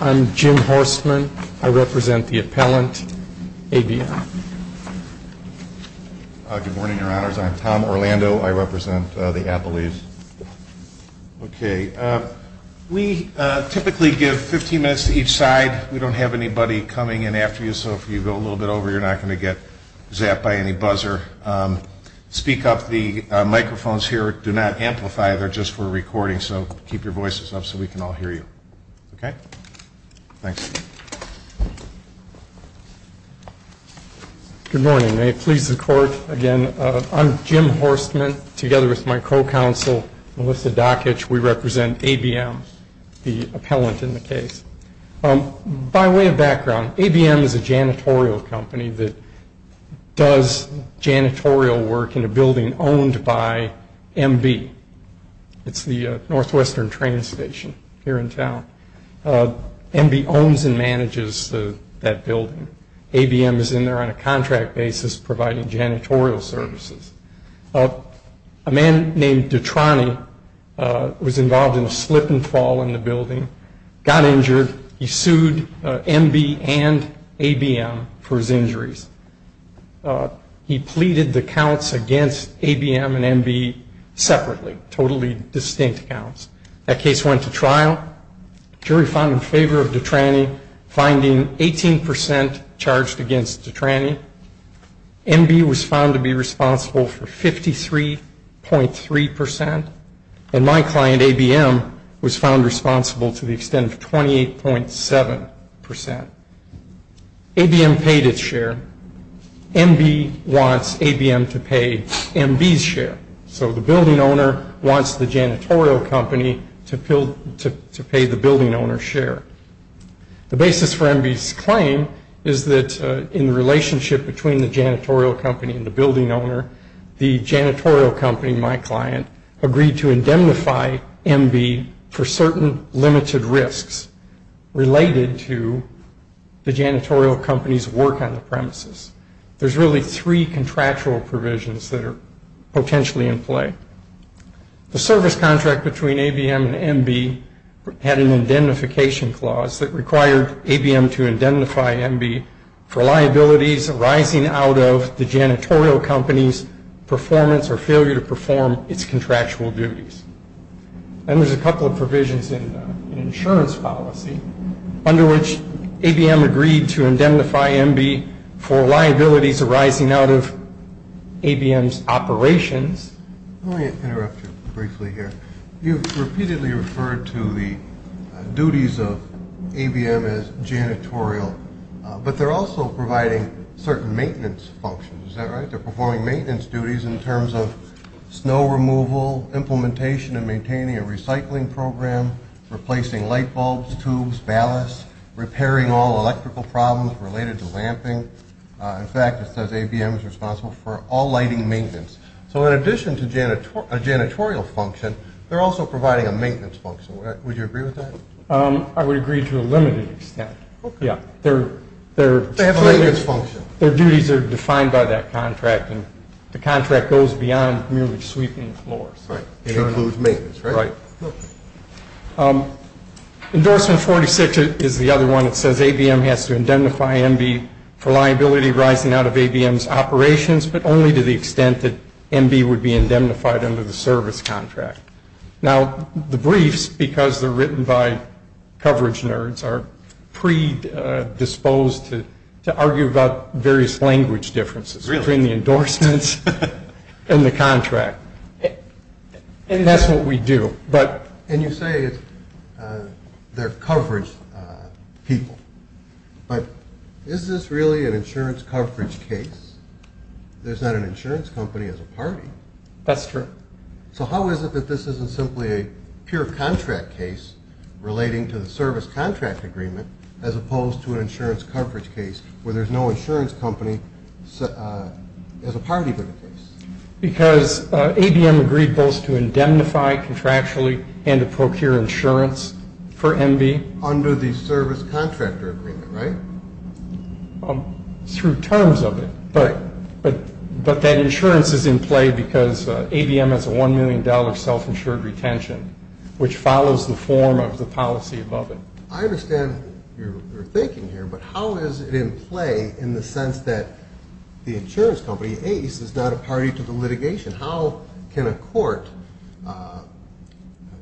I'm Jim Horstman. I represent the appellant, ABM. Good morning, your honors. I'm Tom Orlando. I represent the appellees. Okay. We typically give 15 minutes to each side. We don't have anybody coming in after you, so if you go a little bit over, you're not going to get zapped by any buzzer. Speak up. The microphones here do not amplify. They're just for recording, so keep your voices up so we can all hear you. Okay? Thanks. Good morning. May it please the Court, again, I'm Jim Horstman. Together with my co-counsel, Melissa Dokich, we represent ABM, the appellant in the case. By way of background, ABM is a janitorial company that does janitorial work in a building owned by MB. It's the Northwestern train station here in town. MB owns and manages that building. ABM is in there on a contract basis providing janitorial services. A man named Detrani was involved in a slip and fall in the building, got injured. He sued MB and ABM for his injuries. He pleaded the counts against ABM and MB separately, totally distinct counts. That case went to trial. The jury found in favor of Detrani, finding 18 percent charged against Detrani. MB was found to be responsible for 53.3 percent. And my client, ABM, was found responsible to the extent of 28.7 percent. ABM paid its share. MB wants ABM to pay MB's share. So the building owner wants the janitorial company to pay the building owner's share. The basis for MB's claim is that in the relationship between the janitorial company and the building owner, the janitorial company, my client, agreed to indemnify MB for certain limited risks related to the janitorial company's work on the premises. There's really three contractual provisions that are potentially in play. The service contract between ABM and MB had an indemnification clause that required ABM to indemnify MB for liabilities arising out of the janitorial company's performance or failure to perform its contractual duties. And there's a couple of provisions in the insurance policy under which ABM agreed to indemnify MB for liabilities arising out of ABM's operations. Let me interrupt you briefly here. You've repeatedly referred to the duties of ABM as janitorial, but they're also providing certain maintenance functions. Is that right? They're performing maintenance duties in terms of snow removal, implementation and maintaining a recycling program, replacing light bulbs, tubes, ballasts, repairing all electrical problems related to lamping. In fact, it says ABM is responsible for all lighting maintenance. So in addition to a janitorial function, they're also providing a maintenance function. Would you agree with that? I would agree to a limited extent. Okay. Yeah. They have a maintenance function. Their duties are defined by that contract, and the contract goes beyond merely sweeping floors. Right. It includes maintenance, right? Right. Endorsement 46 is the other one. It says ABM has to indemnify MB for liability arising out of ABM's operations, but only to the extent that MB would be indemnified under the service contract. Now, the briefs, because they're written by coverage nerds, are predisposed to argue about various language differences between the endorsements and the contract. And that's what we do. And you say they're coverage people. But is this really an insurance coverage case? There's not an insurance company as a party. That's true. So how is it that this isn't simply a pure contract case relating to the service contract agreement as opposed to an insurance coverage case where there's no insurance company as a party to the case? Because ABM agreed both to indemnify contractually and to procure insurance for MB. Under the service contractor agreement, right? Through terms of it. But that insurance is in play because ABM has a $1 million self-insured retention, which follows the form of the policy above it. I understand your thinking here, but how is it in play in the sense that the insurance company, ACE, is not a party to the litigation? How can a court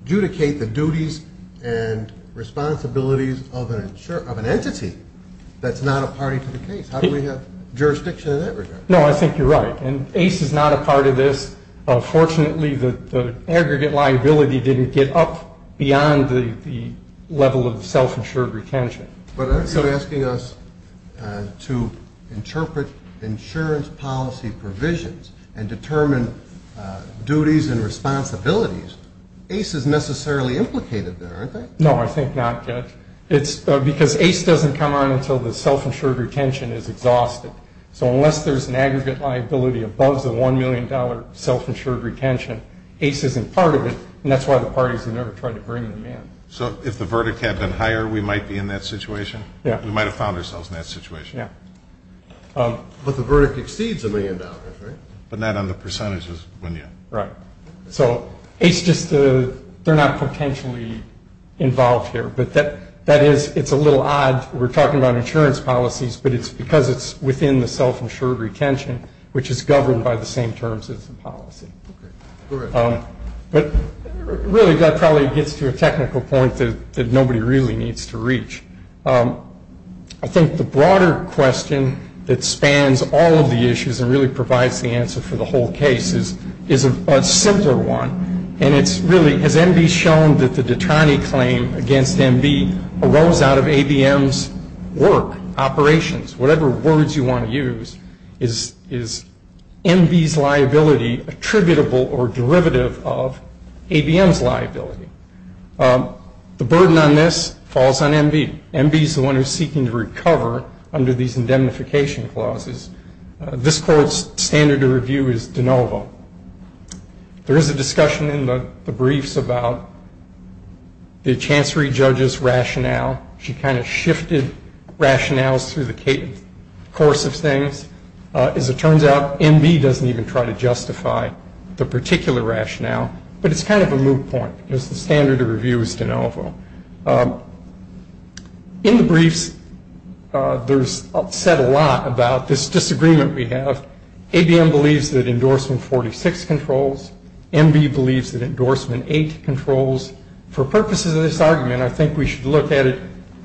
adjudicate the duties and responsibilities of an entity that's not a party to the case? How do we have jurisdiction in that regard? No, I think you're right. And ACE is not a part of this. Fortunately, the aggregate liability didn't get up beyond the level of self-insured retention. But are you asking us to interpret insurance policy provisions and determine duties and responsibilities? ACE is necessarily implicated there, aren't they? No, I think not, Judge. It's because ACE doesn't come on until the self-insured retention is exhausted. So unless there's an aggregate liability above the $1 million self-insured retention, ACE isn't part of it, and that's why the parties have never tried to bring them in. So if the verdict had been higher, we might be in that situation? Yeah. We might have found ourselves in that situation. Yeah. But the verdict exceeds $1 million, right? But not on the percentages when you... Right. So ACE just, they're not potentially involved here. But that is, it's a little odd. We're talking about insurance policies, but it's because it's within the self-insured retention, which is governed by the same terms as the policy. But really, that probably gets to a technical point that nobody really needs to reach. I think the broader question that spans all of the issues and really provides the answer for the whole case is a simpler one. And it's really, has MB shown that the Detrani claim against MB arose out of ABM's work, operations, whatever words you want to use, is MB's liability attributable or derivative of ABM's liability? The burden on this falls on MB. MB is the one who's seeking to recover under these indemnification clauses. This court's standard of review is de novo. There is a discussion in the briefs about the chancery judge's rationale. She kind of shifted rationales through the course of things. As it turns out, MB doesn't even try to justify the particular rationale. But it's kind of a moot point because the standard of review is de novo. In the briefs, there's said a lot about this disagreement we have. ABM believes that endorsement 46 controls. MB believes that endorsement 8 controls. For purposes of this argument, I think we should look at it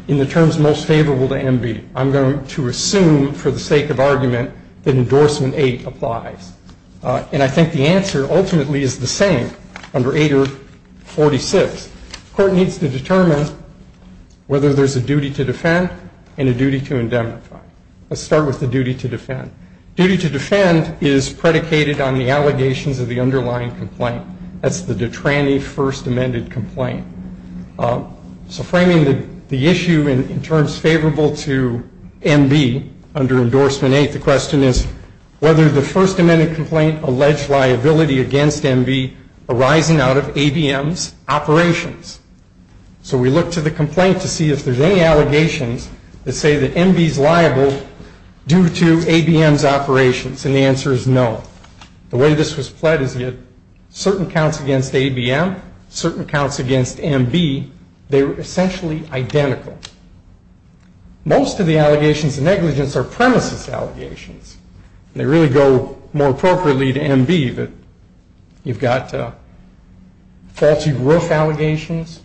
in the terms most favorable to MB. I'm going to assume for the sake of argument that endorsement 8 applies. And I think the answer ultimately is the same under 8 or 46. The court needs to determine whether there's a duty to defend and a duty to indemnify. Let's start with the duty to defend. Duty to defend is predicated on the allegations of the underlying complaint. That's the Detrani first amended complaint. So framing the issue in terms favorable to MB under endorsement 8, the question is whether the first amended complaint alleged liability against MB arising out of ABM's operations. So we look to the complaint to see if there's any allegations that say that MB is liable due to ABM's operations. And the answer is no. The way this was played is that certain counts against ABM, certain counts against MB, they were essentially identical. Most of the allegations of negligence are premises allegations. They really go more appropriately to MB that you've got faulty roof allegations.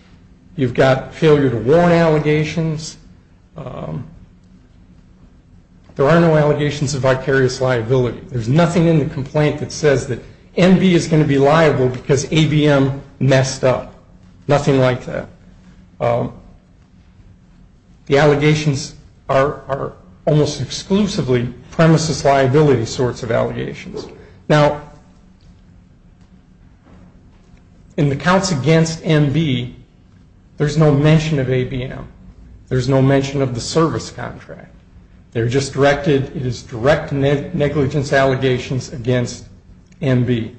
You've got failure to warn allegations. There are no allegations of vicarious liability. There's nothing in the complaint that says that MB is going to be liable because ABM messed up. Nothing like that. The allegations are almost exclusively premises liability sorts of allegations. Now, in the counts against MB, there's no mention of ABM. There's no mention of the service contract. They're just directed as direct negligence allegations against MB.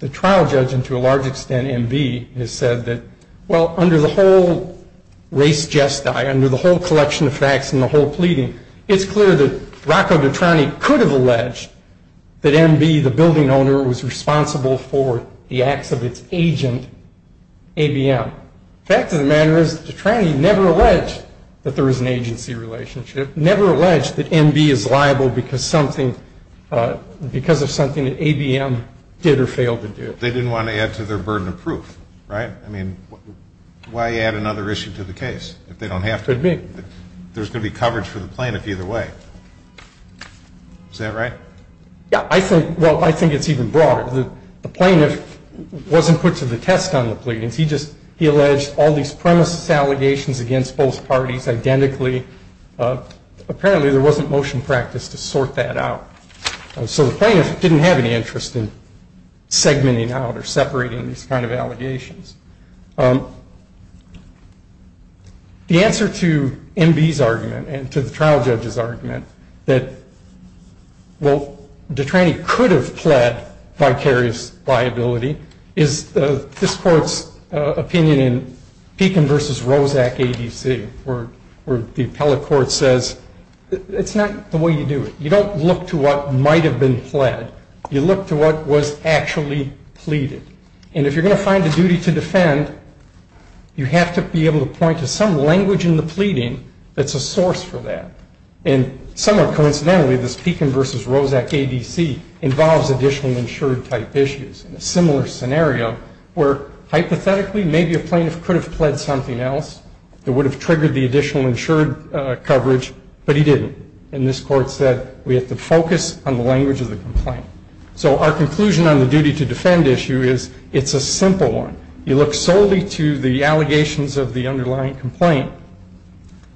The trial judge, and to a large extent MB, has said that, well, under the whole race jest, under the whole collection of facts and the whole pleading, it's clear that Rocco Detrani could have alleged that MB, the building owner, was responsible for the acts of its agent, ABM. Now, the fact of the matter is Detrani never alleged that there was an agency relationship, never alleged that MB is liable because of something that ABM did or failed to do. They didn't want to add to their burden of proof, right? I mean, why add another issue to the case if they don't have to? Could be. There's going to be coverage for the plaintiff either way. Is that right? Yeah. Well, I think it's even broader. The plaintiff wasn't put to the test on the pleadings. He alleged all these premises allegations against both parties identically. Apparently, there wasn't motion practice to sort that out. So the plaintiff didn't have any interest in segmenting out or separating these kind of allegations. The answer to MB's argument and to the trial judge's argument that, well, liability is this court's opinion in Pekin v. Roszak ADC where the appellate court says it's not the way you do it. You don't look to what might have been pled. You look to what was actually pleaded. And if you're going to find a duty to defend, you have to be able to point to some language in the pleading that's a source for that. And somewhat coincidentally, this Pekin v. Roszak ADC involves additional insured-type issues in a similar scenario where, hypothetically, maybe a plaintiff could have pled something else that would have triggered the additional insured coverage, but he didn't. And this court said we have to focus on the language of the complaint. So our conclusion on the duty to defend issue is it's a simple one. You look solely to the allegations of the underlying complaint.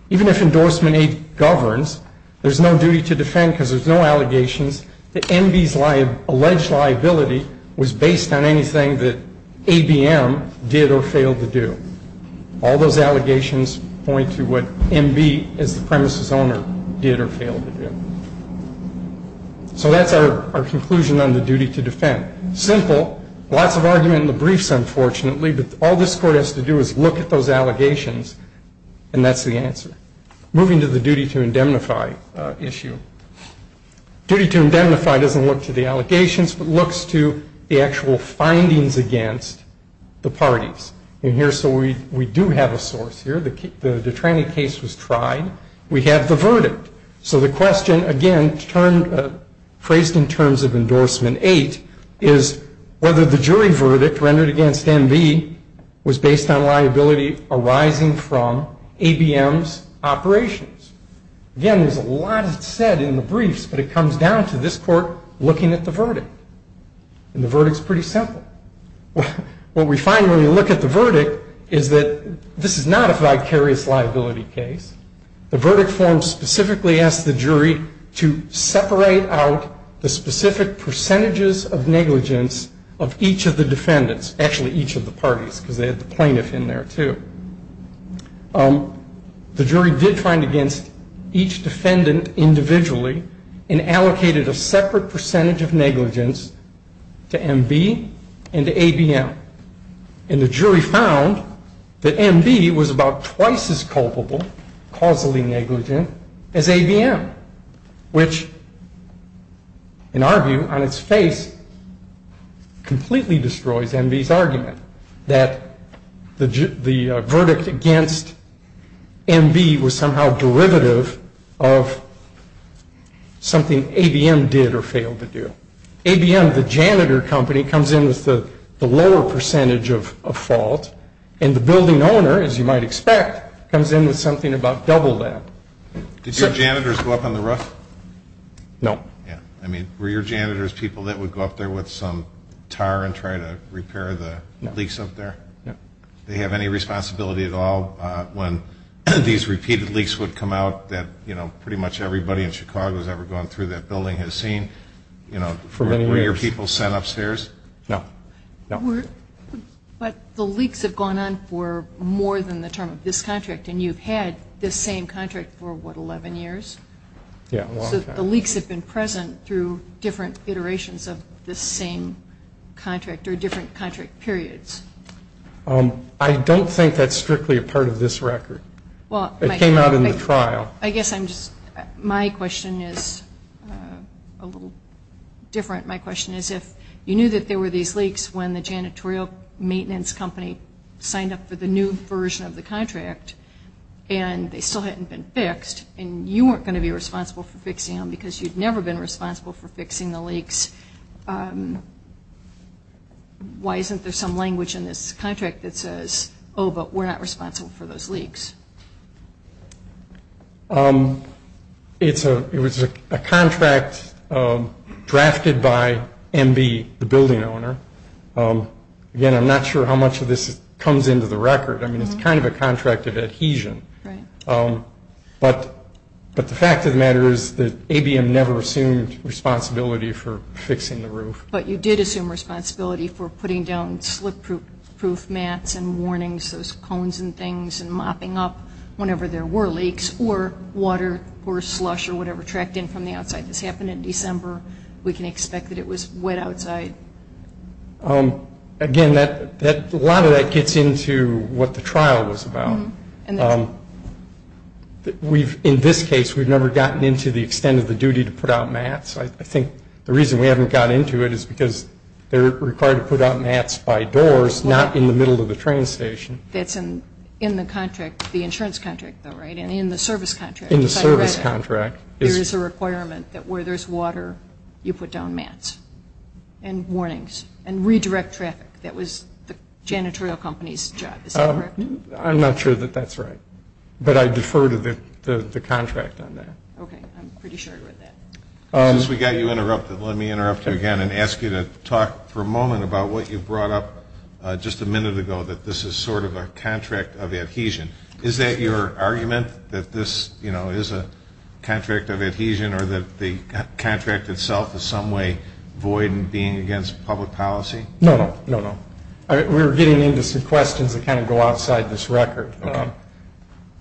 Even if endorsement A governs, there's no duty to defend because there's no allegations that MB's alleged liability was based on anything that ABM did or failed to do. All those allegations point to what MB, as the premise's owner, did or failed to do. So that's our conclusion on the duty to defend. Simple. Lots of argument in the briefs, unfortunately. But all this court has to do is look at those allegations, and that's the answer. Moving to the duty to indemnify issue. Duty to indemnify doesn't look to the allegations, but looks to the actual findings against the parties. And here, so we do have a source here. The Detrani case was tried. We have the verdict. So the question, again, phrased in terms of endorsement eight, is whether the jury verdict rendered against MB was based on liability arising from ABM's operations. Again, there's a lot that's said in the briefs, but it comes down to this court looking at the verdict. And the verdict's pretty simple. What we find when we look at the verdict is that this is not a vicarious liability case. The verdict form specifically asked the jury to separate out the specific percentages of negligence of each of the defendants. Actually, each of the parties, because they had the plaintiff in there, too. The jury did find against each defendant individually and allocated a separate percentage of negligence to MB and to ABM. And the jury found that MB was about twice as culpable, causally negligent, as ABM, which, in our view, on its face completely destroys MB's argument that the verdict against MB was somehow derivative of something ABM did or failed to do. ABM, the janitor company, comes in with the lower percentage of fault. And the building owner, as you might expect, comes in with something about double that. Did your janitors go up on the roof? No. Yeah. I mean, were your janitors people that would go up there with some tar and try to repair the leaks up there? No. Do they have any responsibility at all when these repeated leaks would come out that, you know, Were your people sent upstairs? No. No. But the leaks have gone on for more than the term of this contract. And you've had this same contract for, what, 11 years? Yeah, a long time. So the leaks have been present through different iterations of this same contract or different contract periods. I don't think that's strictly a part of this record. It came out in the trial. I guess I'm just my question is a little different. My question is if you knew that there were these leaks when the janitorial maintenance company signed up for the new version of the contract and they still hadn't been fixed and you weren't going to be responsible for fixing them because you'd never been responsible for fixing the leaks, why isn't there some language in this contract that says, oh, but we're not responsible for those leaks? It was a contract drafted by MB, the building owner. Again, I'm not sure how much of this comes into the record. I mean, it's kind of a contract of adhesion. Right. But the fact of the matter is that ABM never assumed responsibility for fixing the roof. But you did assume responsibility for putting down slip-proof mats and warnings, those cones and things, and mopping up whenever there were leaks or water or slush or whatever tracked in from the outside. This happened in December. We can expect that it was wet outside. Again, a lot of that gets into what the trial was about. In this case, we've never gotten into the extent of the duty to put out mats. I think the reason we haven't gotten into it is because they're required to put out mats by doors, not in the middle of the train station. That's in the contract, the insurance contract, though, right, and in the service contract. In the service contract. There is a requirement that where there's water, you put down mats and warnings and redirect traffic. That was the janitorial company's job. Is that correct? I'm not sure that that's right. But I defer to the contract on that. Okay. I'm pretty sure I read that. Since we got you interrupted, let me interrupt you again and ask you to talk for a moment about what you brought up just a minute ago, that this is sort of a contract of adhesion. Is that your argument, that this, you know, is a contract of adhesion or that the contract itself is some way void and being against public policy? No, no, no, no. We were getting into some questions that kind of go outside this record. Okay.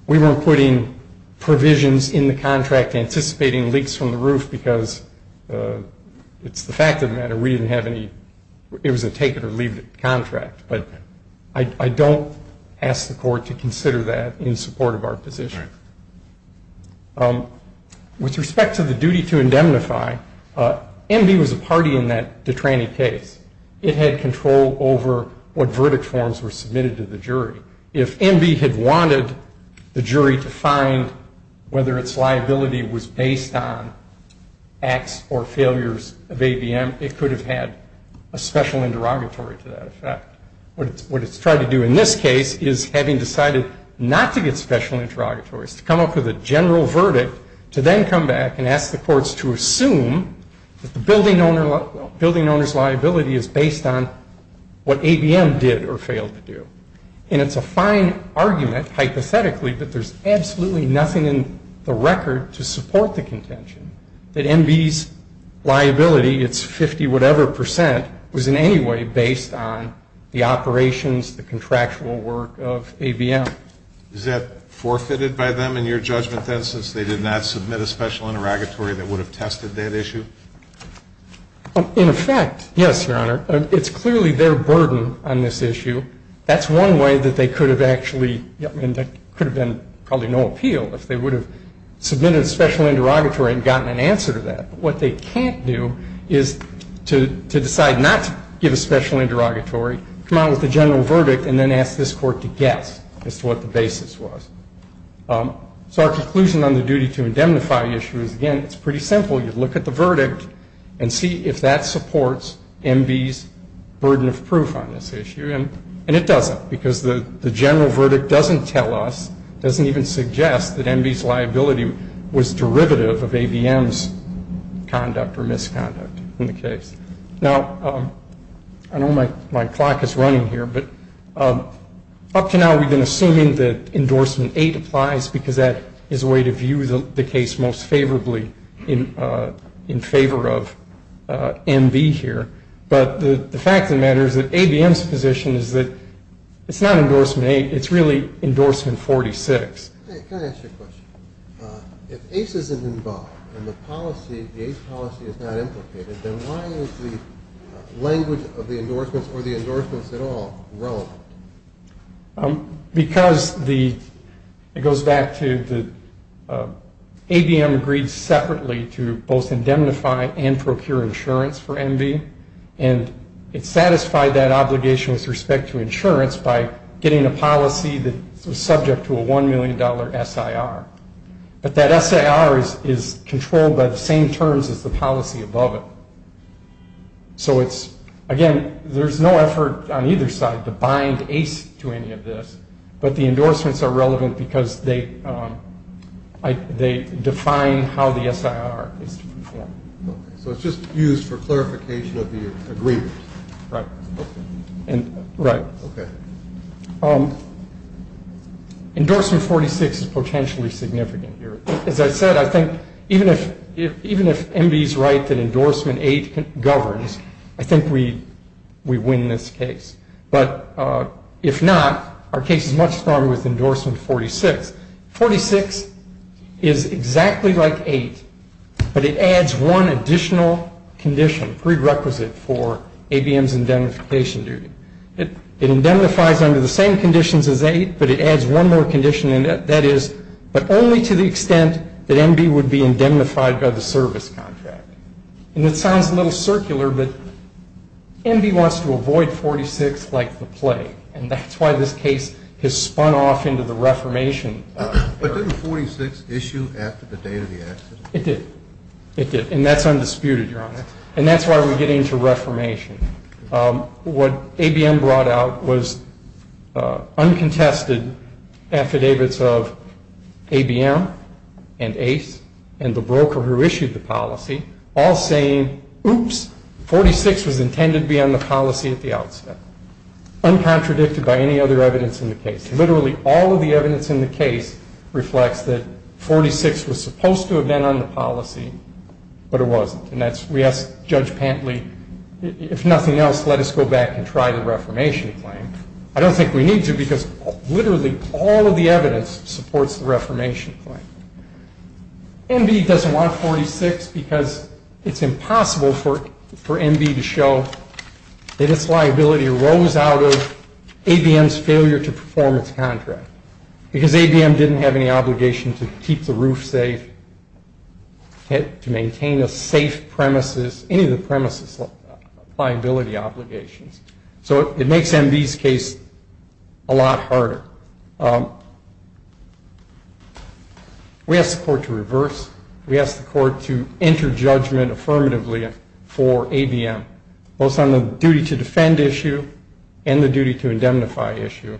We weren't putting provisions in the contract anticipating leaks from the roof because it's the fact of the matter. We didn't have any. It was a take-it-or-leave-it contract. But I don't ask the court to consider that in support of our position. Right. With respect to the duty to indemnify, MB was a party in that Detrani case. It had control over what verdict forms were submitted to the jury. If MB had wanted the jury to find whether its liability was based on acts or failures of ABM, it could have had a special interrogatory to that effect. What it's tried to do in this case is, having decided not to get special interrogatories, to come up with a general verdict, to then come back and ask the courts to assume that the building owner's liability is based on what ABM did or failed to do. And it's a fine argument, hypothetically, but there's absolutely nothing in the record to support the contention that MB's liability, its 50-whatever percent, was in any way based on the operations, the contractual work of ABM. Is that forfeited by them in your judgment, then, since they did not submit a special interrogatory that would have tested that issue? In effect, yes, Your Honor. It's clearly their burden on this issue. That's one way that they could have actually been probably no appeal, if they would have submitted a special interrogatory and gotten an answer to that. What they can't do is to decide not to give a special interrogatory, come out with a general verdict, and then ask this Court to guess as to what the basis was. So our conclusion on the duty to indemnify issue is, again, it's pretty simple. You look at the verdict and see if that supports MB's burden of proof on this issue. And it doesn't, because the general verdict doesn't tell us, doesn't even suggest that MB's liability was derivative of ABM's conduct or misconduct in the case. Now, I know my clock is running here, but up to now we've been assuming that endorsement 8 applies, because that is a way to view the case most favorably in favor of MB here. But the fact of the matter is that ABM's position is that it's not endorsement 8, it's really endorsement 46. Hey, can I ask you a question? If ACE isn't involved and the policy, the ACE policy is not implicated, then why is the language of the endorsements or the endorsements at all relevant? Because the, it goes back to the, ABM agreed separately to both indemnify and procure insurance for MB, and it satisfied that obligation with respect to insurance by getting a policy that was subject to a $1 million SIR. But that SIR is controlled by the same terms as the policy above it. So it's, again, there's no effort on either side to bind ACE to any of this, but the endorsements are relevant because they define how the SIR is to be formed. Okay. So it's just used for clarification of the agreement. Right. Okay. Right. Okay. Endorsement 46 is potentially significant here. As I said, I think even if MB is right that endorsement 8 governs, I think we win this case. But if not, our case is much stronger with endorsement 46. Because 46 is exactly like 8, but it adds one additional condition prerequisite for ABM's indemnification duty. It indemnifies under the same conditions as 8, but it adds one more condition, and that is but only to the extent that MB would be indemnified by the service contract. And it sounds a little circular, but MB wants to avoid 46 like the plague, and that's why this case has spun off into the reformation. But didn't 46 issue after the date of the accident? It did. It did. And that's undisputed, Your Honor. And that's why we get into reformation. What ABM brought out was uncontested affidavits of ABM and ACE and the broker who issued the policy all saying, oops, 46 was intended to be on the policy at the outset. Uncontradicted by any other evidence in the case. Literally all of the evidence in the case reflects that 46 was supposed to have been on the policy, but it wasn't. And we asked Judge Pantley, if nothing else, let us go back and try the reformation claim. I don't think we need to because literally all of the evidence supports the reformation claim. MB doesn't want 46 because it's impossible for MB to show that its liability arose out of ABM's failure to perform its contract. Because ABM didn't have any obligation to keep the roof safe, to maintain a safe premises, any of the premises liability obligations. So it makes MB's case a lot harder. We asked the court to reverse. We asked the court to enter judgment affirmatively for ABM, both on the duty to defend issue and the duty to indemnify issue.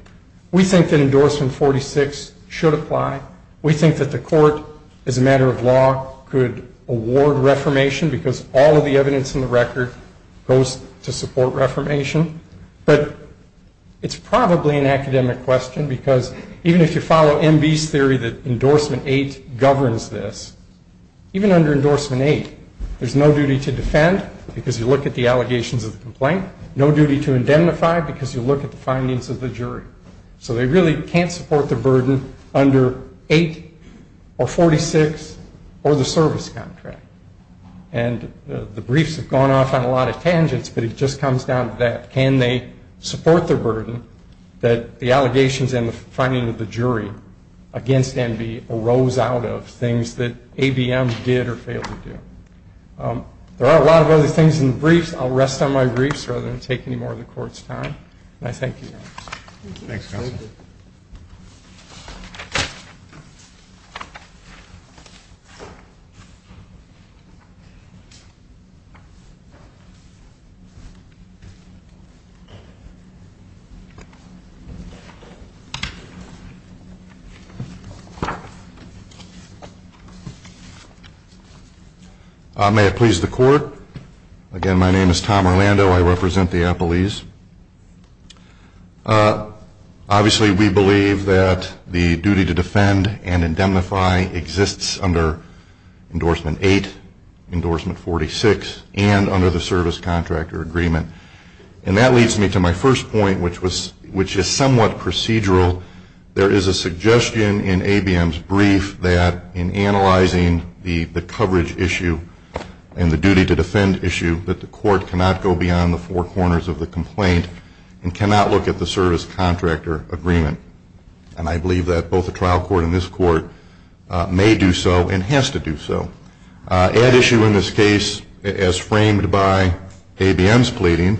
We think that endorsement 46 should apply. We think that the court, as a matter of law, could award reformation because all of the evidence in the record goes to support reformation. But it's probably an academic question because even if you follow MB's theory that endorsement 8 governs this, even under endorsement 8, there's no duty to defend because you look at the allegations of the complaint, no duty to indemnify because you look at the findings of the jury. So they really can't support the burden under 8 or 46 or the service contract. And the briefs have gone off on a lot of tangents, but it just comes down to that. Can they support the burden that the allegations and the finding of the jury against MB arose out of things that ABM did or failed to do? There are a lot of other things in the briefs. I'll rest on my griefs rather than take any more of the court's time. And I thank you. Thanks, counsel. May it please the court. Again, my name is Tom Orlando. I represent the appellees. Obviously, we believe that the duty to defend and indemnify exists under endorsement 8, endorsement 46, and under the service contractor agreement. And that leads me to my first point, which is somewhat procedural. There is a suggestion in ABM's brief that in analyzing the coverage issue and the duty to defend issue, that the court cannot go beyond the four corners of the complaint and cannot look at the service contractor agreement. And I believe that both the trial court and this court may do so and has to do so. At issue in this case, as framed by ABM's pleading,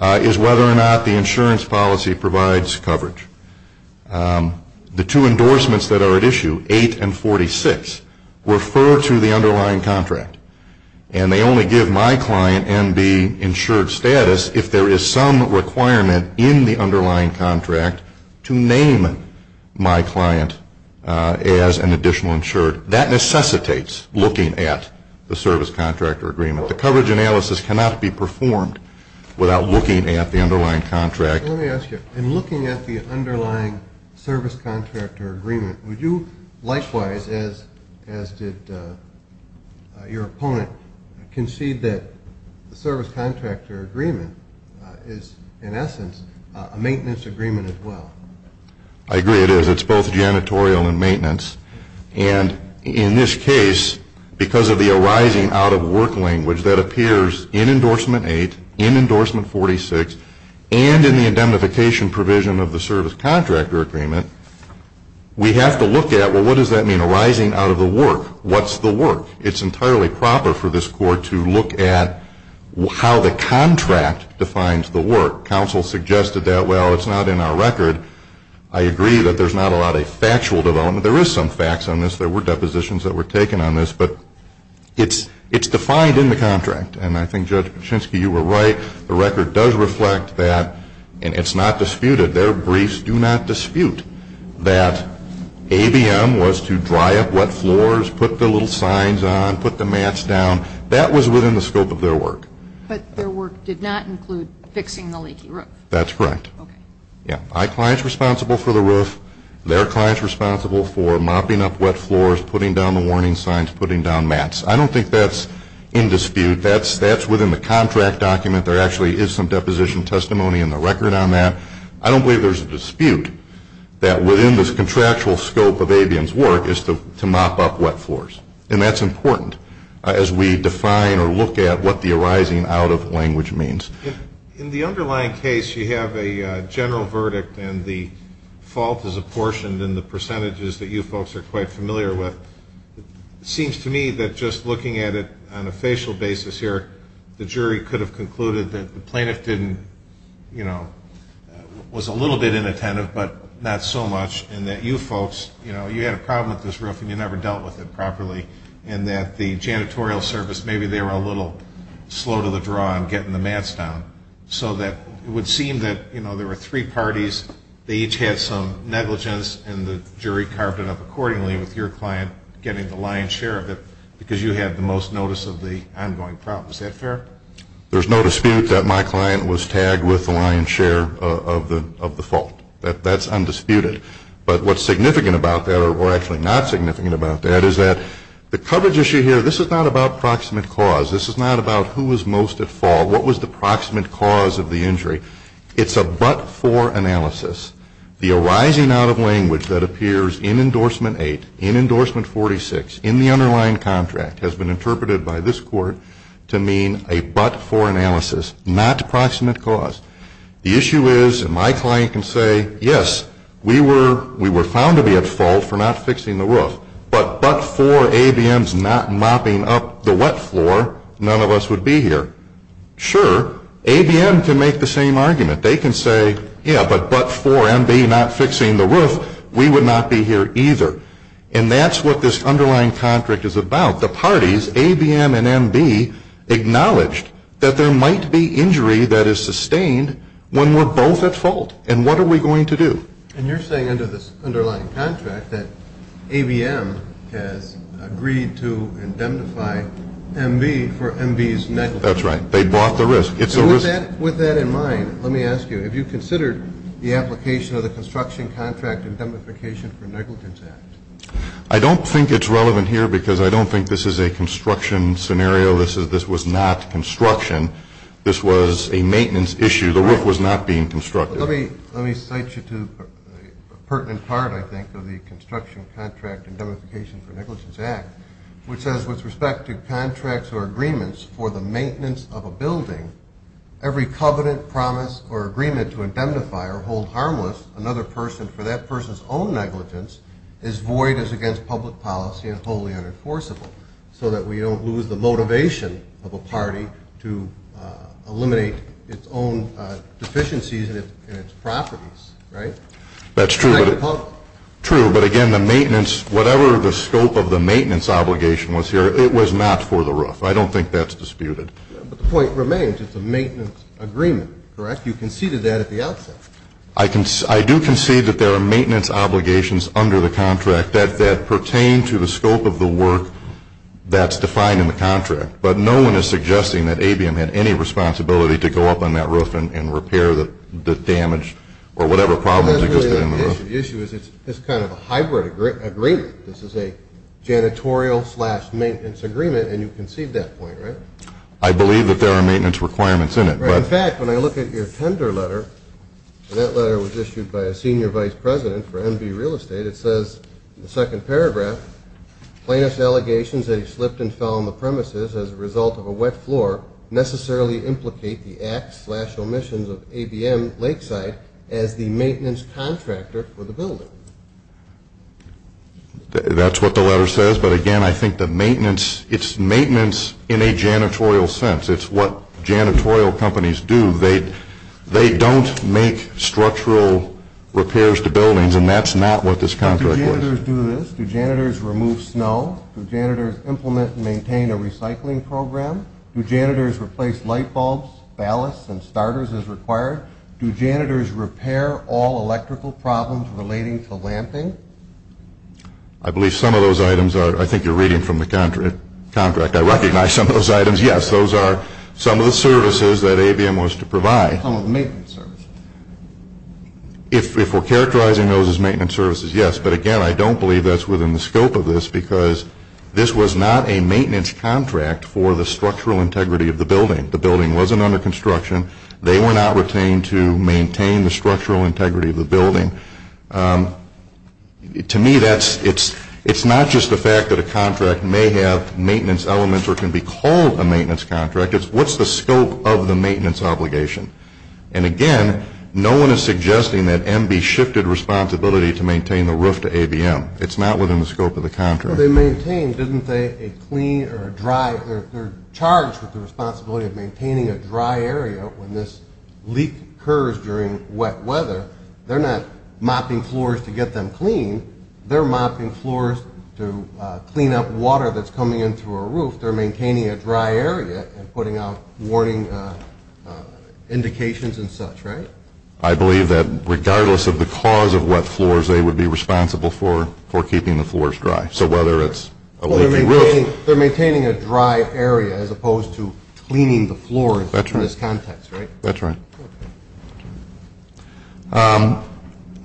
is whether or not the insurance policy provides coverage. The two endorsements that are at issue, 8 and 46, refer to the underlying contract. And they only give my client and the insured status if there is some requirement in the underlying contract to name my client as an additional insured. That necessitates looking at the service contractor agreement. The coverage analysis cannot be performed without looking at the underlying contract. Let me ask you, in looking at the underlying service contractor agreement, would you likewise, as did your opponent, concede that the service contractor agreement is, in essence, a maintenance agreement as well? I agree it is. It's both janitorial and maintenance. And in this case, because of the arising out of work language that appears in endorsement 8, in endorsement 46, and in the indemnification provision of the service contractor agreement, we have to look at, well, what does that mean, arising out of the work? What's the work? It's entirely proper for this court to look at how the contract defines the work. Counsel suggested that, well, it's not in our record. I agree that there's not a lot of factual development. There is some facts on this. There were depositions that were taken on this. But it's defined in the contract. And I think, Judge Kuczynski, you were right. The record does reflect that. And it's not disputed. Their briefs do not dispute that ABM was to dry up wet floors, put the little signs on, put the mats down. That was within the scope of their work. But their work did not include fixing the leaky roof. That's correct. Okay. My client's responsible for the roof. Their client's responsible for mopping up wet floors, putting down the warning signs, putting down mats. I don't think that's in dispute. That's within the contract document. There actually is some deposition testimony in the record on that. I don't believe there's a dispute that within this contractual scope of ABM's work is to mop up wet floors. And that's important as we define or look at what the arising out of language means. In the underlying case, you have a general verdict. And the fault is apportioned in the percentages that you folks are quite familiar with. It seems to me that just looking at it on a facial basis here, the jury could have concluded that the plaintiff didn't, you know, was a little bit inattentive, but not so much. And that you folks, you know, you had a problem with this roof and you never dealt with it properly. And that the janitorial service, maybe they were a little slow to the draw in getting the mats down. So that it would seem that, you know, there were three parties. They each had some negligence and the jury carved it up accordingly with your client getting the lion's share of it because you had the most notice of the ongoing problem. Is that fair? There's no dispute that my client was tagged with the lion's share of the fault. That's undisputed. But what's significant about that, or actually not significant about that, is that the coverage issue here, this is not about proximate cause. This is not about who was most at fault. What was the proximate cause of the injury? It's a but-for analysis. The arising out of language that appears in endorsement 8, in endorsement 46, in the underlying contract, has been interpreted by this court to mean a but-for analysis, not proximate cause. The issue is, and my client can say, yes, we were found to be at fault for not fixing the roof, but but-for ABM's not mopping up the wet floor, none of us would be here. Sure, ABM can make the same argument. They can say, yeah, but but-for MB not fixing the roof, we would not be here either. And that's what this underlying contract is about. The parties, ABM and MB, acknowledged that there might be injury that is sustained when we're both at fault. And what are we going to do? And you're saying under this underlying contract that ABM has agreed to indemnify MB for MB's negligence. That's right. They bought the risk. With that in mind, let me ask you, have you considered the application of the Construction Contract Indemnification for Negligence Act? I don't think it's relevant here because I don't think this is a construction scenario. This was not construction. This was a maintenance issue. The roof was not being constructed. Let me cite you to a pertinent part, I think, of the Construction Contract Indemnification for Negligence Act, which says with respect to contracts or agreements for the maintenance of a building, every covenant, promise, or agreement to indemnify or hold harmless another person for that person's own negligence is void as against public policy and wholly unenforceable so that we don't lose the motivation of a party to eliminate its own deficiencies in its properties, right? That's true, but again, the maintenance, whatever the scope of the maintenance obligation was here, it was not for the roof. I don't think that's disputed. But the point remains, it's a maintenance agreement, correct? You conceded that at the outset. I do concede that there are maintenance obligations under the contract that pertain to the scope of the work that's defined in the contract. But no one is suggesting that ABM had any responsibility to go up on that roof and repair the damage or whatever problems existed in the roof. The issue is it's kind of a hybrid agreement. This is a janitorial-slash-maintenance agreement, and you concede that point, right? I believe that there are maintenance requirements in it. In fact, when I look at your tender letter, and that letter was issued by a senior vice president for MV Real Estate, it says in the second paragraph, plaintiff's allegations that he slipped and fell on the premises as a result of a wet floor necessarily implicate the acts-slash-omissions of ABM Lakeside as the maintenance contractor for the building. That's what the letter says. But again, I think the maintenance, it's maintenance in a janitorial sense. It's what janitorial companies do. They don't make structural repairs to buildings, and that's not what this contract was. Do janitors do this? Do janitors remove snow? Do janitors implement and maintain a recycling program? Do janitors replace light bulbs, ballasts, and starters as required? Do janitors repair all electrical problems relating to lamping? I believe some of those items are, I think you're reading from the contract, I recognize some of those items. Yes, those are some of the services that ABM was to provide. Some of the maintenance services. If we're characterizing those as maintenance services, yes, but again, I don't believe that's within the scope of this because this was not a maintenance contract for the structural integrity of the building. The building wasn't under construction. They were not retained to maintain the structural integrity of the building. To me, it's not just the fact that a contract may have maintenance elements or can be called a maintenance contract. It's what's the scope of the maintenance obligation? And again, no one is suggesting that MB shifted responsibility to maintain the roof to ABM. It's not within the scope of the contract. Well, they maintain, didn't they, a clean or a dry, they're charged with the responsibility of maintaining a dry area when this leak occurs during wet weather. They're not mopping floors to get them clean. They're mopping floors to clean up water that's coming in through a roof. They're maintaining a dry area and putting out warning indications and such, right? I believe that regardless of the cause of wet floors, they would be responsible for keeping the floors dry. So whether it's a leaking roof. They're maintaining a dry area as opposed to cleaning the floor in this context, right? That's right. Okay.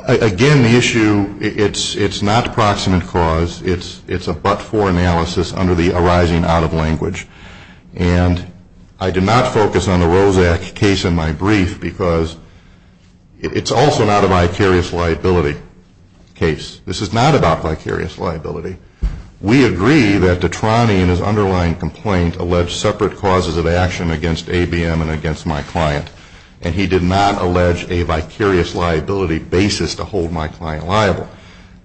Again, the issue, it's not proximate cause. It's a but-for analysis under the arising out-of-language. And I did not focus on the Roszak case in my brief because it's also not a vicarious liability case. This is not about vicarious liability. We agree that Detrani in his underlying complaint alleged separate causes of action against ABM and against my client. And he did not allege a vicarious liability basis to hold my client liable.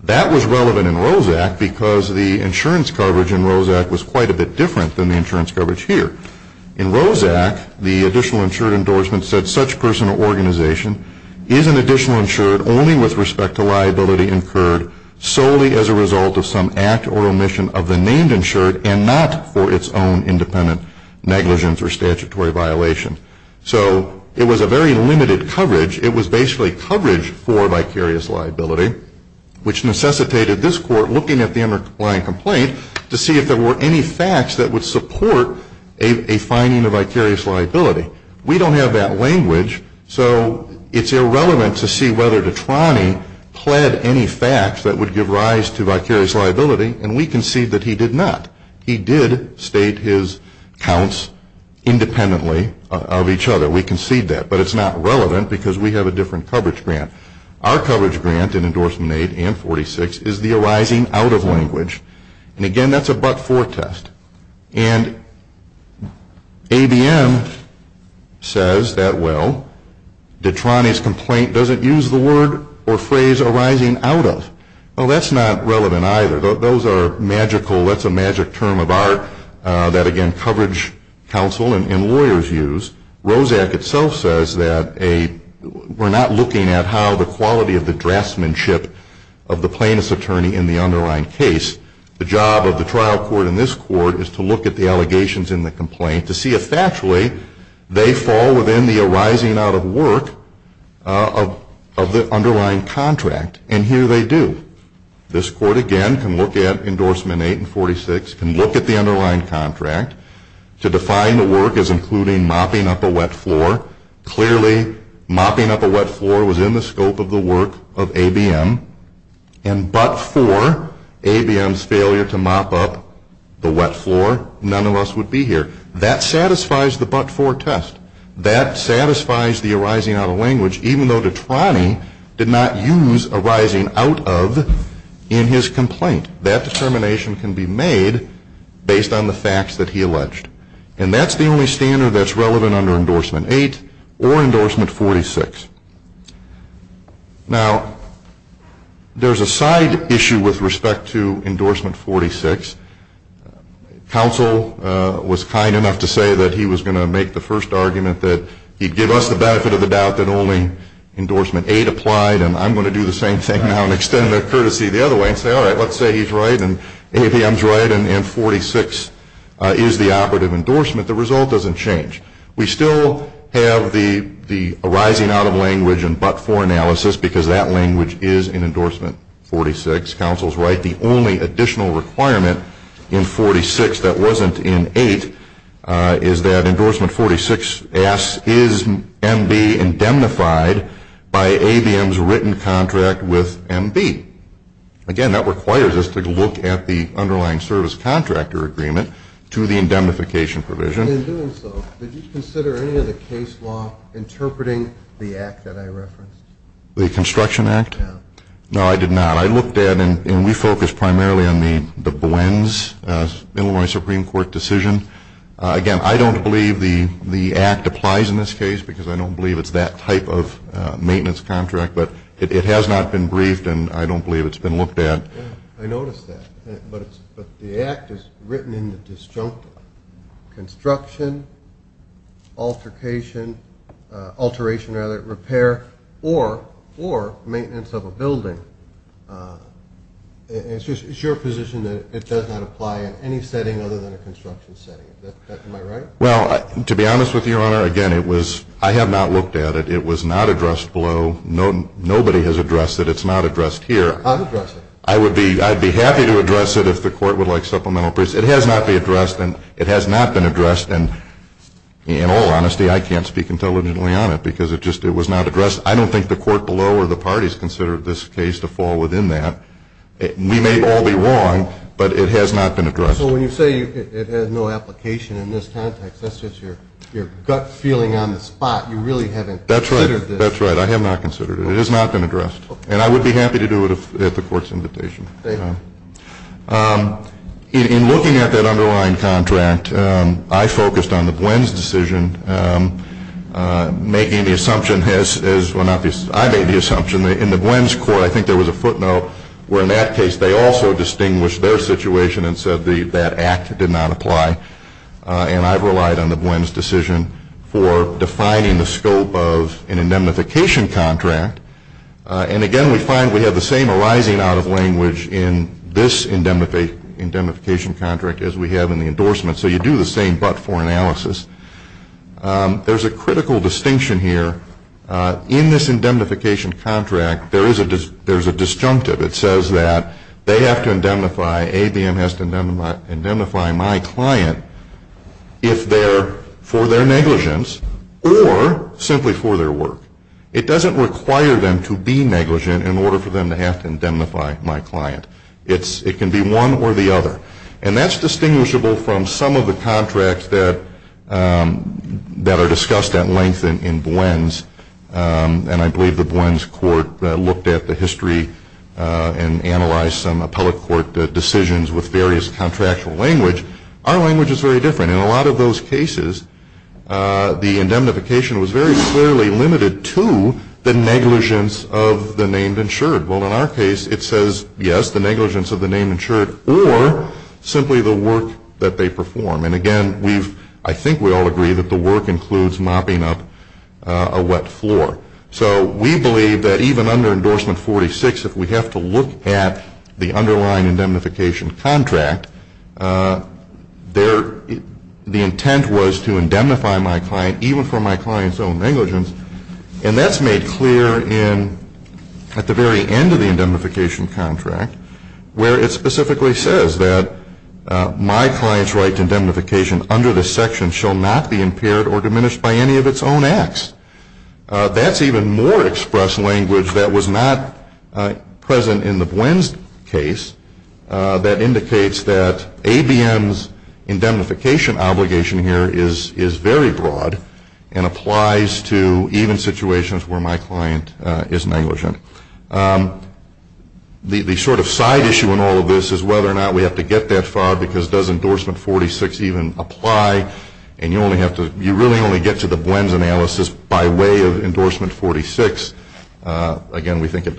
That was relevant in Roszak because the insurance coverage in Roszak was quite a bit different than the insurance coverage here. In Roszak, the additional insured endorsement said, is an additional insured only with respect to liability incurred solely as a result of some act or omission of the named insured and not for its own independent negligence or statutory violation. So it was a very limited coverage. It was basically coverage for vicarious liability, which necessitated this court looking at the underlying complaint to see if there were any facts that would support a finding of vicarious liability. We don't have that language, so it's irrelevant to see whether Detrani pled any facts that would give rise to vicarious liability. And we concede that he did not. He did state his counts independently of each other. We concede that. But it's not relevant because we have a different coverage grant. Our coverage grant in Endorsement 8 and 46 is the arising out of language. And again, that's a but-for test. And ABM says that, well, Detrani's complaint doesn't use the word or phrase arising out of. Well, that's not relevant either. Those are magical. That's a magic term of art that, again, coverage counsel and lawyers use. Roszak itself says that we're not looking at how the quality of the draftsmanship of the plaintiff's attorney in the underlying case, the job of the trial court in this court is to look at the allegations in the complaint to see if, actually, they fall within the arising out of work of the underlying contract. And here they do. This court, again, can look at Endorsement 8 and 46, can look at the underlying contract to define the work as including mopping up a wet floor. Clearly, mopping up a wet floor was in the scope of the work of ABM. And but-for, ABM's failure to mop up the wet floor, none of us would be here. That satisfies the but-for test. That satisfies the arising out of language, even though Detrani did not use arising out of in his complaint. That determination can be made based on the facts that he alleged. And that's the only standard that's relevant under Endorsement 8 or Endorsement 46. Now, there's a side issue with respect to Endorsement 46. Counsel was kind enough to say that he was going to make the first argument that he'd give us the benefit of the doubt that only Endorsement 8 applied. And I'm going to do the same thing now and extend the courtesy the other way and say, all right, let's say he's right and ABM's right and 46 is the operative endorsement. The result doesn't change. We still have the arising out of language and but-for analysis because that language is in Endorsement 46. Counsel's right. The only additional requirement in 46 that wasn't in 8 is that Endorsement 46 asks, is MB indemnified by ABM's written contract with MB? Again, that requires us to look at the underlying service contractor agreement to the indemnification provision. In doing so, did you consider any of the case law interpreting the act that I referenced? The Construction Act? Yeah. No, I did not. I looked at and we focused primarily on the Boends Illinois Supreme Court decision. Again, I don't believe the act applies in this case because I don't believe it's that type of maintenance contract. But it has not been briefed and I don't believe it's been looked at. I noticed that. But the act is written in the disjunctive. Construction, altercation, alteration rather than repair or maintenance of a building. It's your position that it does not apply in any setting other than a construction setting. Am I right? Well, to be honest with you, Your Honor, again, I have not looked at it. It was not addressed below. Nobody has addressed it. It's not addressed here. I would be happy to address it if the court would like supplemental briefs. It has not been addressed and in all honesty, I can't speak intelligently on it because it was not addressed. I don't think the court below or the parties considered this case to fall within that. We may all be wrong, but it has not been addressed. So when you say it has no application in this context, that's just your gut feeling on the spot. You really haven't considered this. That's right. I have not considered it. It has not been addressed. And I would be happy to do it at the court's invitation. Thank you. In looking at that underlying contract, I focused on the Buens decision making the assumption as well not the I made the assumption that in the Buens court I think there was a footnote where in that case they also distinguished their situation and said that act did not apply. And I've relied on the Buens decision for defining the scope of an indemnification contract. And again, we find we have the same arising out of language in this indemnification contract as we have in the endorsement. So you do the same but for analysis. There's a critical distinction here. In this indemnification contract, there is a disjunctive. It says that they have to indemnify, ABM has to indemnify my client if they're for their negligence or simply for their work. It doesn't require them to be negligent in order for them to have to indemnify my client. It can be one or the other. And that's distinguishable from some of the contracts that are discussed at length in Buens. And I believe the Buens court looked at the history and analyzed some appellate court decisions with various contractual language. Our language is very different. In a lot of those cases, the indemnification was very clearly limited to the negligence of the name insured. Well, in our case, it says, yes, the negligence of the name insured or simply the work that they perform. And, again, I think we all agree that the work includes mopping up a wet floor. So we believe that even under Endorsement 46, if we have to look at the underlying indemnification contract, the intent was to indemnify my client even for my client's own negligence. And that's made clear at the very end of the indemnification contract, where it specifically says that my client's right to indemnification under this section shall not be impaired or diminished by any of its own acts. That's even more express language that was not present in the Buens case that indicates that ABM's indemnification obligation here is very broad and applies to even situations where my client is negligent. The sort of side issue in all of this is whether or not we have to get that far because does Endorsement 46 even apply? And you really only get to the Buens analysis by way of Endorsement 46. Again, we think the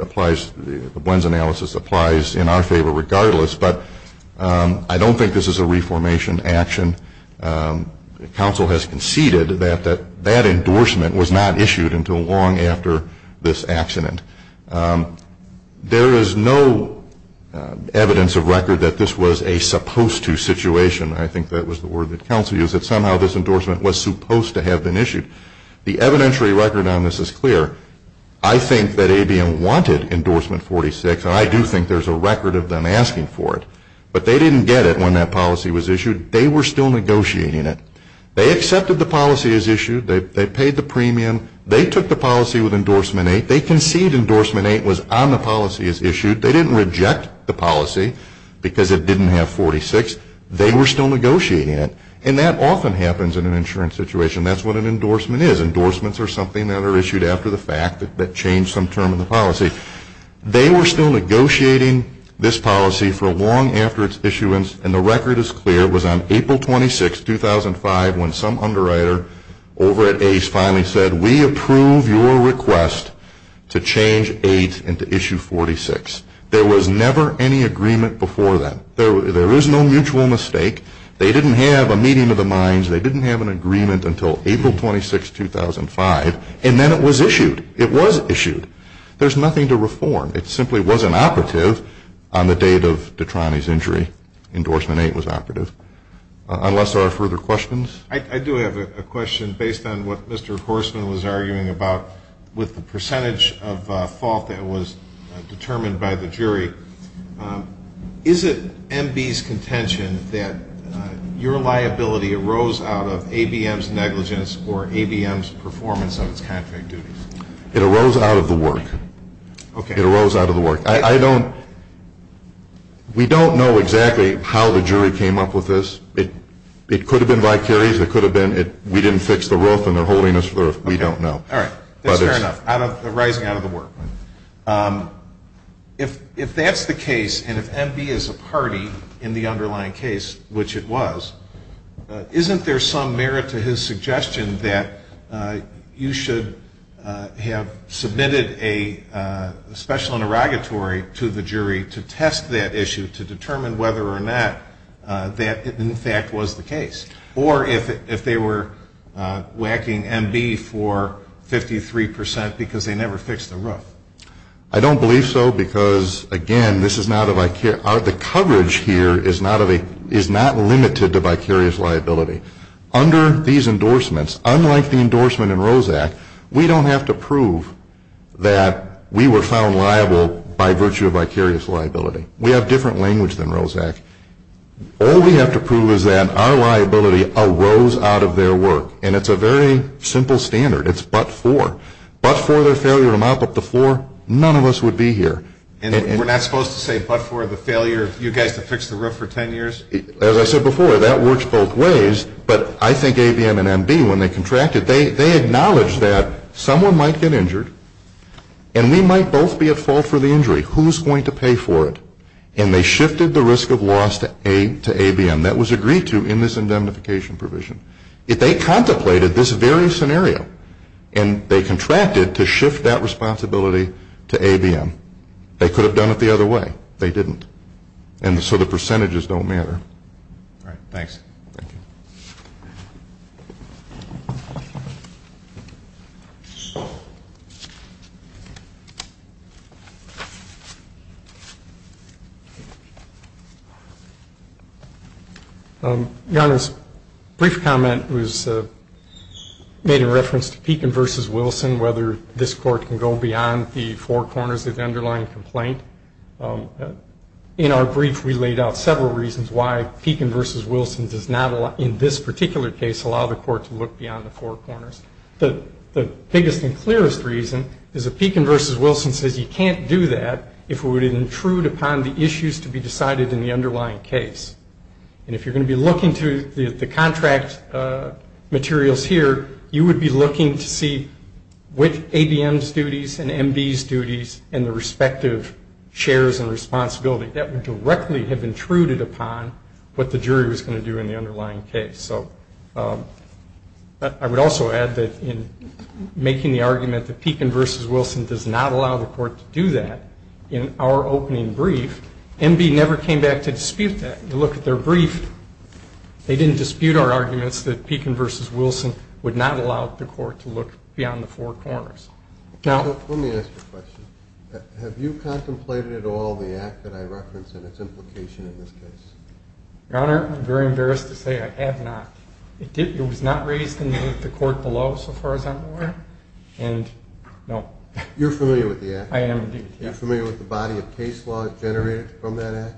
Buens analysis applies in our favor regardless. But I don't think this is a reformation action. Counsel has conceded that that endorsement was not issued until long after this accident. There is no evidence of record that this was a supposed to situation. I think that was the word that counsel used, that somehow this endorsement was supposed to have been issued. The evidentiary record on this is clear. I think that ABM wanted Endorsement 46, and I do think there's a record of them asking for it. But they didn't get it when that policy was issued. They were still negotiating it. They accepted the policy as issued. They paid the premium. They took the policy with Endorsement 8. They conceded Endorsement 8 was on the policy as issued. They didn't reject the policy because it didn't have 46. They were still negotiating it. And that often happens in an insurance situation. That's what an endorsement is. Endorsements are something that are issued after the fact that changed some term in the policy. They were still negotiating this policy for long after its issuance, and the record is clear. It was on April 26, 2005, when some underwriter over at Ace finally said, we approve your request to change 8 into Issue 46. There was never any agreement before that. There is no mutual mistake. They didn't have a meeting of the minds. They didn't have an agreement until April 26, 2005, and then it was issued. It was issued. There's nothing to reform. It simply wasn't operative on the date of Detrani's injury. Endorsement 8 was operative. Unless there are further questions? I do have a question based on what Mr. Horstman was arguing about with the percentage of fault that was determined by the jury. Is it MB's contention that your liability arose out of ABM's negligence or ABM's performance of its contract duties? It arose out of the work. Okay. It arose out of the work. We don't know exactly how the jury came up with this. It could have been by carries. It could have been we didn't fix the roof and they're holding us for the roof. We don't know. All right. Fair enough. Arising out of the work. If that's the case and if MB is a party in the underlying case, which it was, isn't there some merit to his suggestion that you should have submitted a special interrogatory to the jury to test that issue to determine whether or not that, in fact, was the case? Or if they were whacking MB for 53% because they never fixed the roof? I don't believe so because, again, this is not a by carry. The coverage here is not limited to by carries liability. Under these endorsements, unlike the endorsement in ROSAC, we don't have to prove that we were found liable by virtue of by carries liability. We have different language than ROSAC. All we have to prove is that our liability arose out of their work. And it's a very simple standard. It's but for. But for their failure to mop up the floor, none of us would be here. And we're not supposed to say but for the failure of you guys to fix the roof for 10 years? As I said before, that works both ways. But I think ABM and MB, when they contracted, they acknowledged that someone might get injured and we might both be at fault for the injury. Who's going to pay for it? And they shifted the risk of loss to ABM. That was agreed to in this indemnification provision. If they contemplated this very scenario and they contracted to shift that responsibility to ABM, they could have done it the other way. They didn't. And so the percentages don't matter. All right. Thanks. Your Honor, this brief comment was made in reference to Pekin v. Wilson, whether this court can go beyond the four corners of the underlying complaint. In our brief, we laid out several reasons why Pekin v. particular case allow the court to look beyond the four corners. The biggest and clearest reason is that Pekin v. Wilson says you can't do that if we would intrude upon the issues to be decided in the underlying case. And if you're going to be looking to the contract materials here, you would be looking to see which ABM's duties and MB's duties and the respective shares and responsibility that would directly have intruded upon what the jury was going to do in the underlying case. So I would also add that in making the argument that Pekin v. Wilson does not allow the court to do that in our opening brief, MB never came back to dispute that. You look at their brief. They didn't dispute our arguments that Pekin v. Wilson would not allow the court to look beyond the four corners. Let me ask you a question. Have you contemplated at all the act that I referenced and its implication in this case? Your Honor, I'm very embarrassed to say I have not. It was not raised in the court below so far as I'm aware. And no. You're familiar with the act? I am indeed. Are you familiar with the body of case law generated from that act?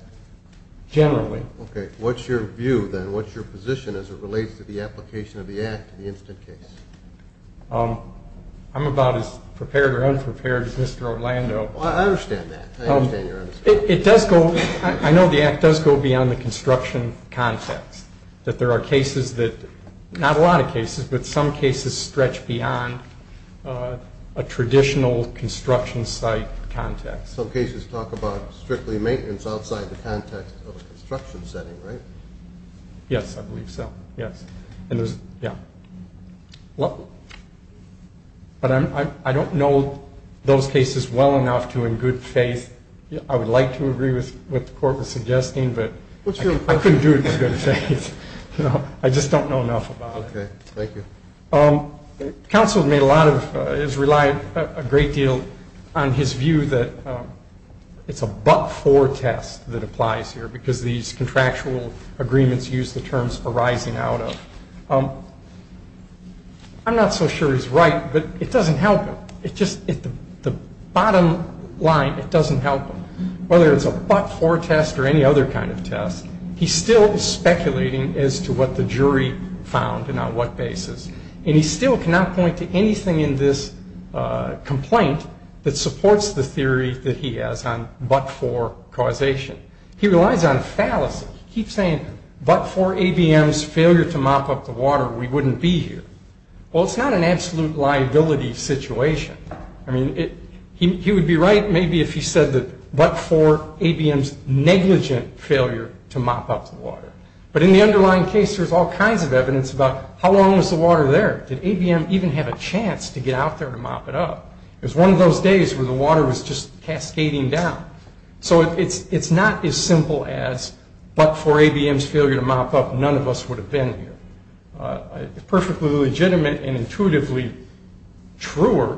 Generally. Okay. What's your view then? What's your position as it relates to the application of the act to the instant case? I'm about as prepared or unprepared as Mr. Orlando. I understand that. I understand your understanding. I know the act does go beyond the construction context, that there are cases that, not a lot of cases, but some cases stretch beyond a traditional construction site context. Some cases talk about strictly maintenance outside the context of a construction setting, right? Yes, I believe so. Yes. But I don't know those cases well enough to, in good faith, I would like to agree with what the court was suggesting, but I couldn't do it in good faith. I just don't know enough about it. Okay. Thank you. Counsel has relied a great deal on his view that it's a but-for test that applies here I'm not so sure he's right, but it doesn't help him. At the bottom line, it doesn't help him. Whether it's a but-for test or any other kind of test, he still is speculating as to what the jury found and on what basis, and he still cannot point to anything in this complaint that supports the theory that he has on but-for causation. He relies on fallacy. He keeps saying, but-for ABM's failure to mop up the water, we wouldn't be here. Well, it's not an absolute liability situation. I mean, he would be right maybe if he said that but-for ABM's negligent failure to mop up the water. But in the underlying case, there's all kinds of evidence about how long was the water there? Did ABM even have a chance to get out there to mop it up? It was one of those days where the water was just cascading down. So it's not as simple as but-for ABM's failure to mop up, none of us would have been here. A perfectly legitimate and intuitively truer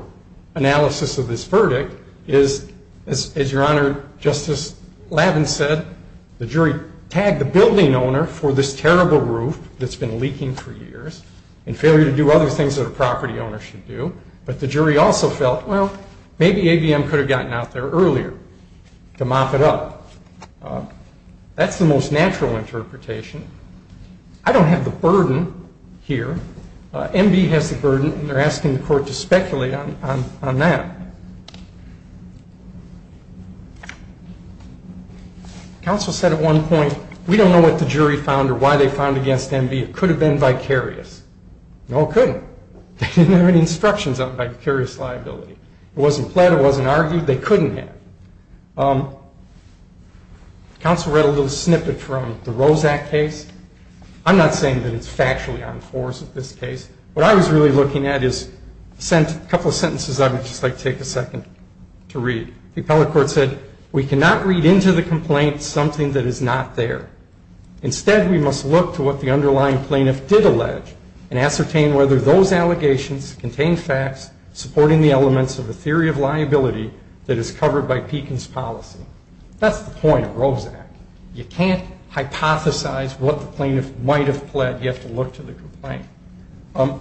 analysis of this verdict is, as Your Honor, Justice Lavin said, the jury tagged the building owner for this terrible roof that's been leaking for years and failure to do other things that a property owner should do, but the jury also felt, well, maybe ABM could have gotten out there earlier to mop it up. That's the most natural interpretation. I don't have the burden here. MB has the burden, and they're asking the court to speculate on that. Counsel said at one point, we don't know what the jury found or why they found against MB. It could have been vicarious. No, it couldn't. They didn't have any instructions on vicarious liability. It wasn't pled. It wasn't argued. They couldn't have. Counsel read a little snippet from the Rose Act case. I'm not saying that it's factually on course with this case. What I was really looking at is a couple of sentences I would just like to take a second to read. The appellate court said, we cannot read into the complaint something that is not there. Instead, we must look to what the underlying plaintiff did allege and ascertain whether those allegations contain facts supporting the elements of a theory of liability that is covered by Pekin's policy. That's the point of Rose Act. You can't hypothesize what the plaintiff might have pled. You have to look to the complaint. On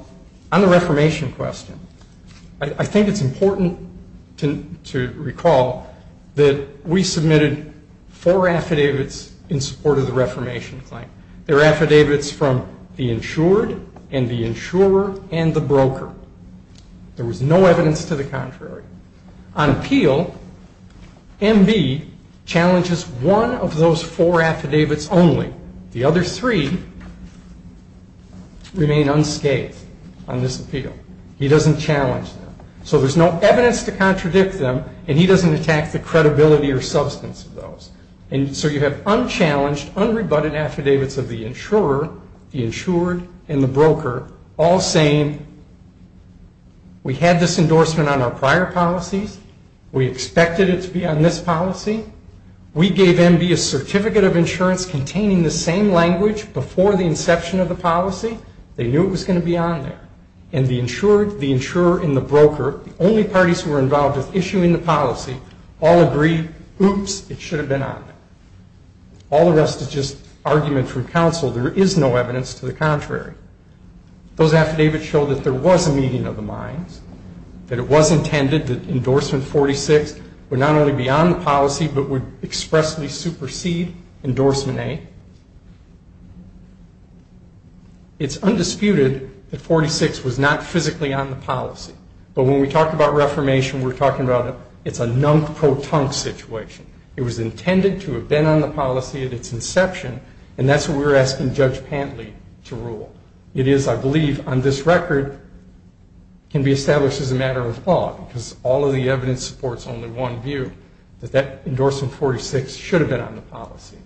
the reformation question, I think it's important to recall that we submitted four affidavits in support of the reformation claim. They're affidavits from the insured and the insurer and the broker. There was no evidence to the contrary. On appeal, M.B. challenges one of those four affidavits only. The other three remain unscathed on this appeal. He doesn't challenge them. So there's no evidence to contradict them, and he doesn't attack the credibility or substance of those. And so you have unchallenged, unrebutted affidavits of the insurer, the insured, and the broker all saying, we had this endorsement on our prior policies. We expected it to be on this policy. We gave M.B. a certificate of insurance containing the same language before the inception of the policy. They knew it was going to be on there. And the insured, the insurer, and the broker, the only parties who were involved with issuing the policy, all agreed, oops, it should have been on there. All the rest is just argument from counsel. There is no evidence to the contrary. Those affidavits show that there was a meeting of the minds, that it was intended that endorsement 46 would not only be on the policy but would expressly supersede endorsement A. It's undisputed that 46 was not physically on the policy. But when we talk about reformation, we're talking about it's a nunk-pro-tunk situation. It was intended to have been on the policy at its inception, and that's what we're asking Judge Pantley to rule. It is, I believe, on this record, can be established as a matter of law because all of the evidence supports only one view, that that endorsement 46 should have been on the policy.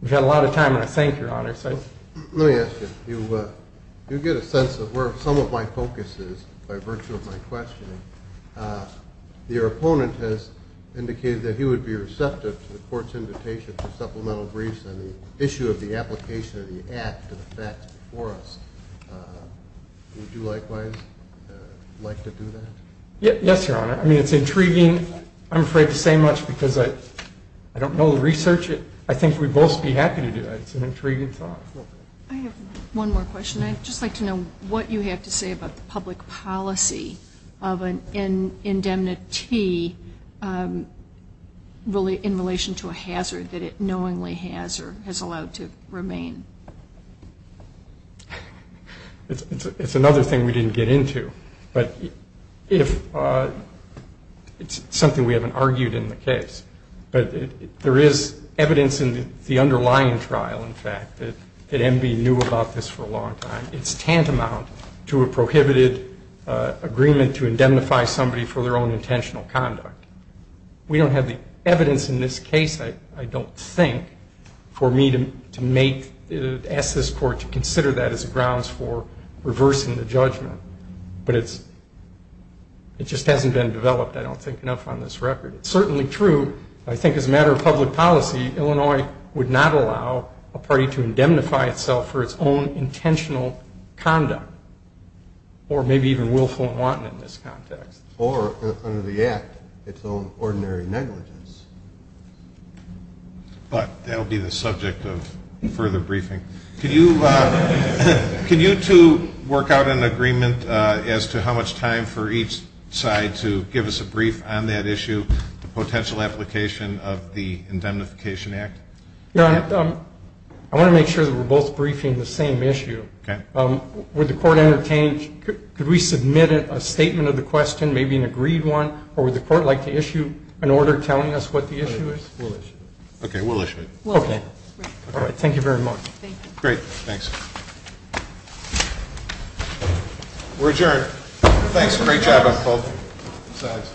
We've had a lot of time, and I thank Your Honor. Let me ask you. You get a sense of where some of my focus is by virtue of my questioning. Your opponent has indicated that he would be receptive to the court's invitation for supplemental briefs on the issue of the application of the Act to the facts before us. Would you likewise like to do that? Yes, Your Honor. I mean, it's intriguing. I'm afraid to say much because I don't know the research. I think we'd both be happy to do it. It's an intriguing thought. I have one more question. I'd just like to know what you have to say about the public policy of an indemnity in relation to a hazard that it knowingly has or has allowed to remain. It's another thing we didn't get into, but it's something we haven't argued in the case. But there is evidence in the underlying trial, in fact, that MB knew about this for a long time. It's tantamount to a prohibited agreement to indemnify somebody for their own intentional conduct. We don't have the evidence in this case, I don't think, for me to ask this court to consider that as grounds for reversing the judgment. But it just hasn't been developed, I don't think, enough on this record. It's certainly true, I think, as a matter of public policy, Illinois would not allow a party to indemnify itself for its own intentional conduct or maybe even willful and wanton in this context. Or under the Act, its own ordinary negligence. But that will be the subject of further briefing. Can you two work out an agreement as to how much time for each side to give us a brief on that issue, the potential application of the Indemnification Act? I want to make sure that we're both briefing the same issue. Okay. Would the court entertain, could we submit a statement of the question, maybe an agreed one, or would the court like to issue an order telling us what the issue is? We'll issue it. Okay, we'll issue it. Okay. All right, thank you very much. Thank you. Great, thanks. We're adjourned. Thanks. Great job on both sides.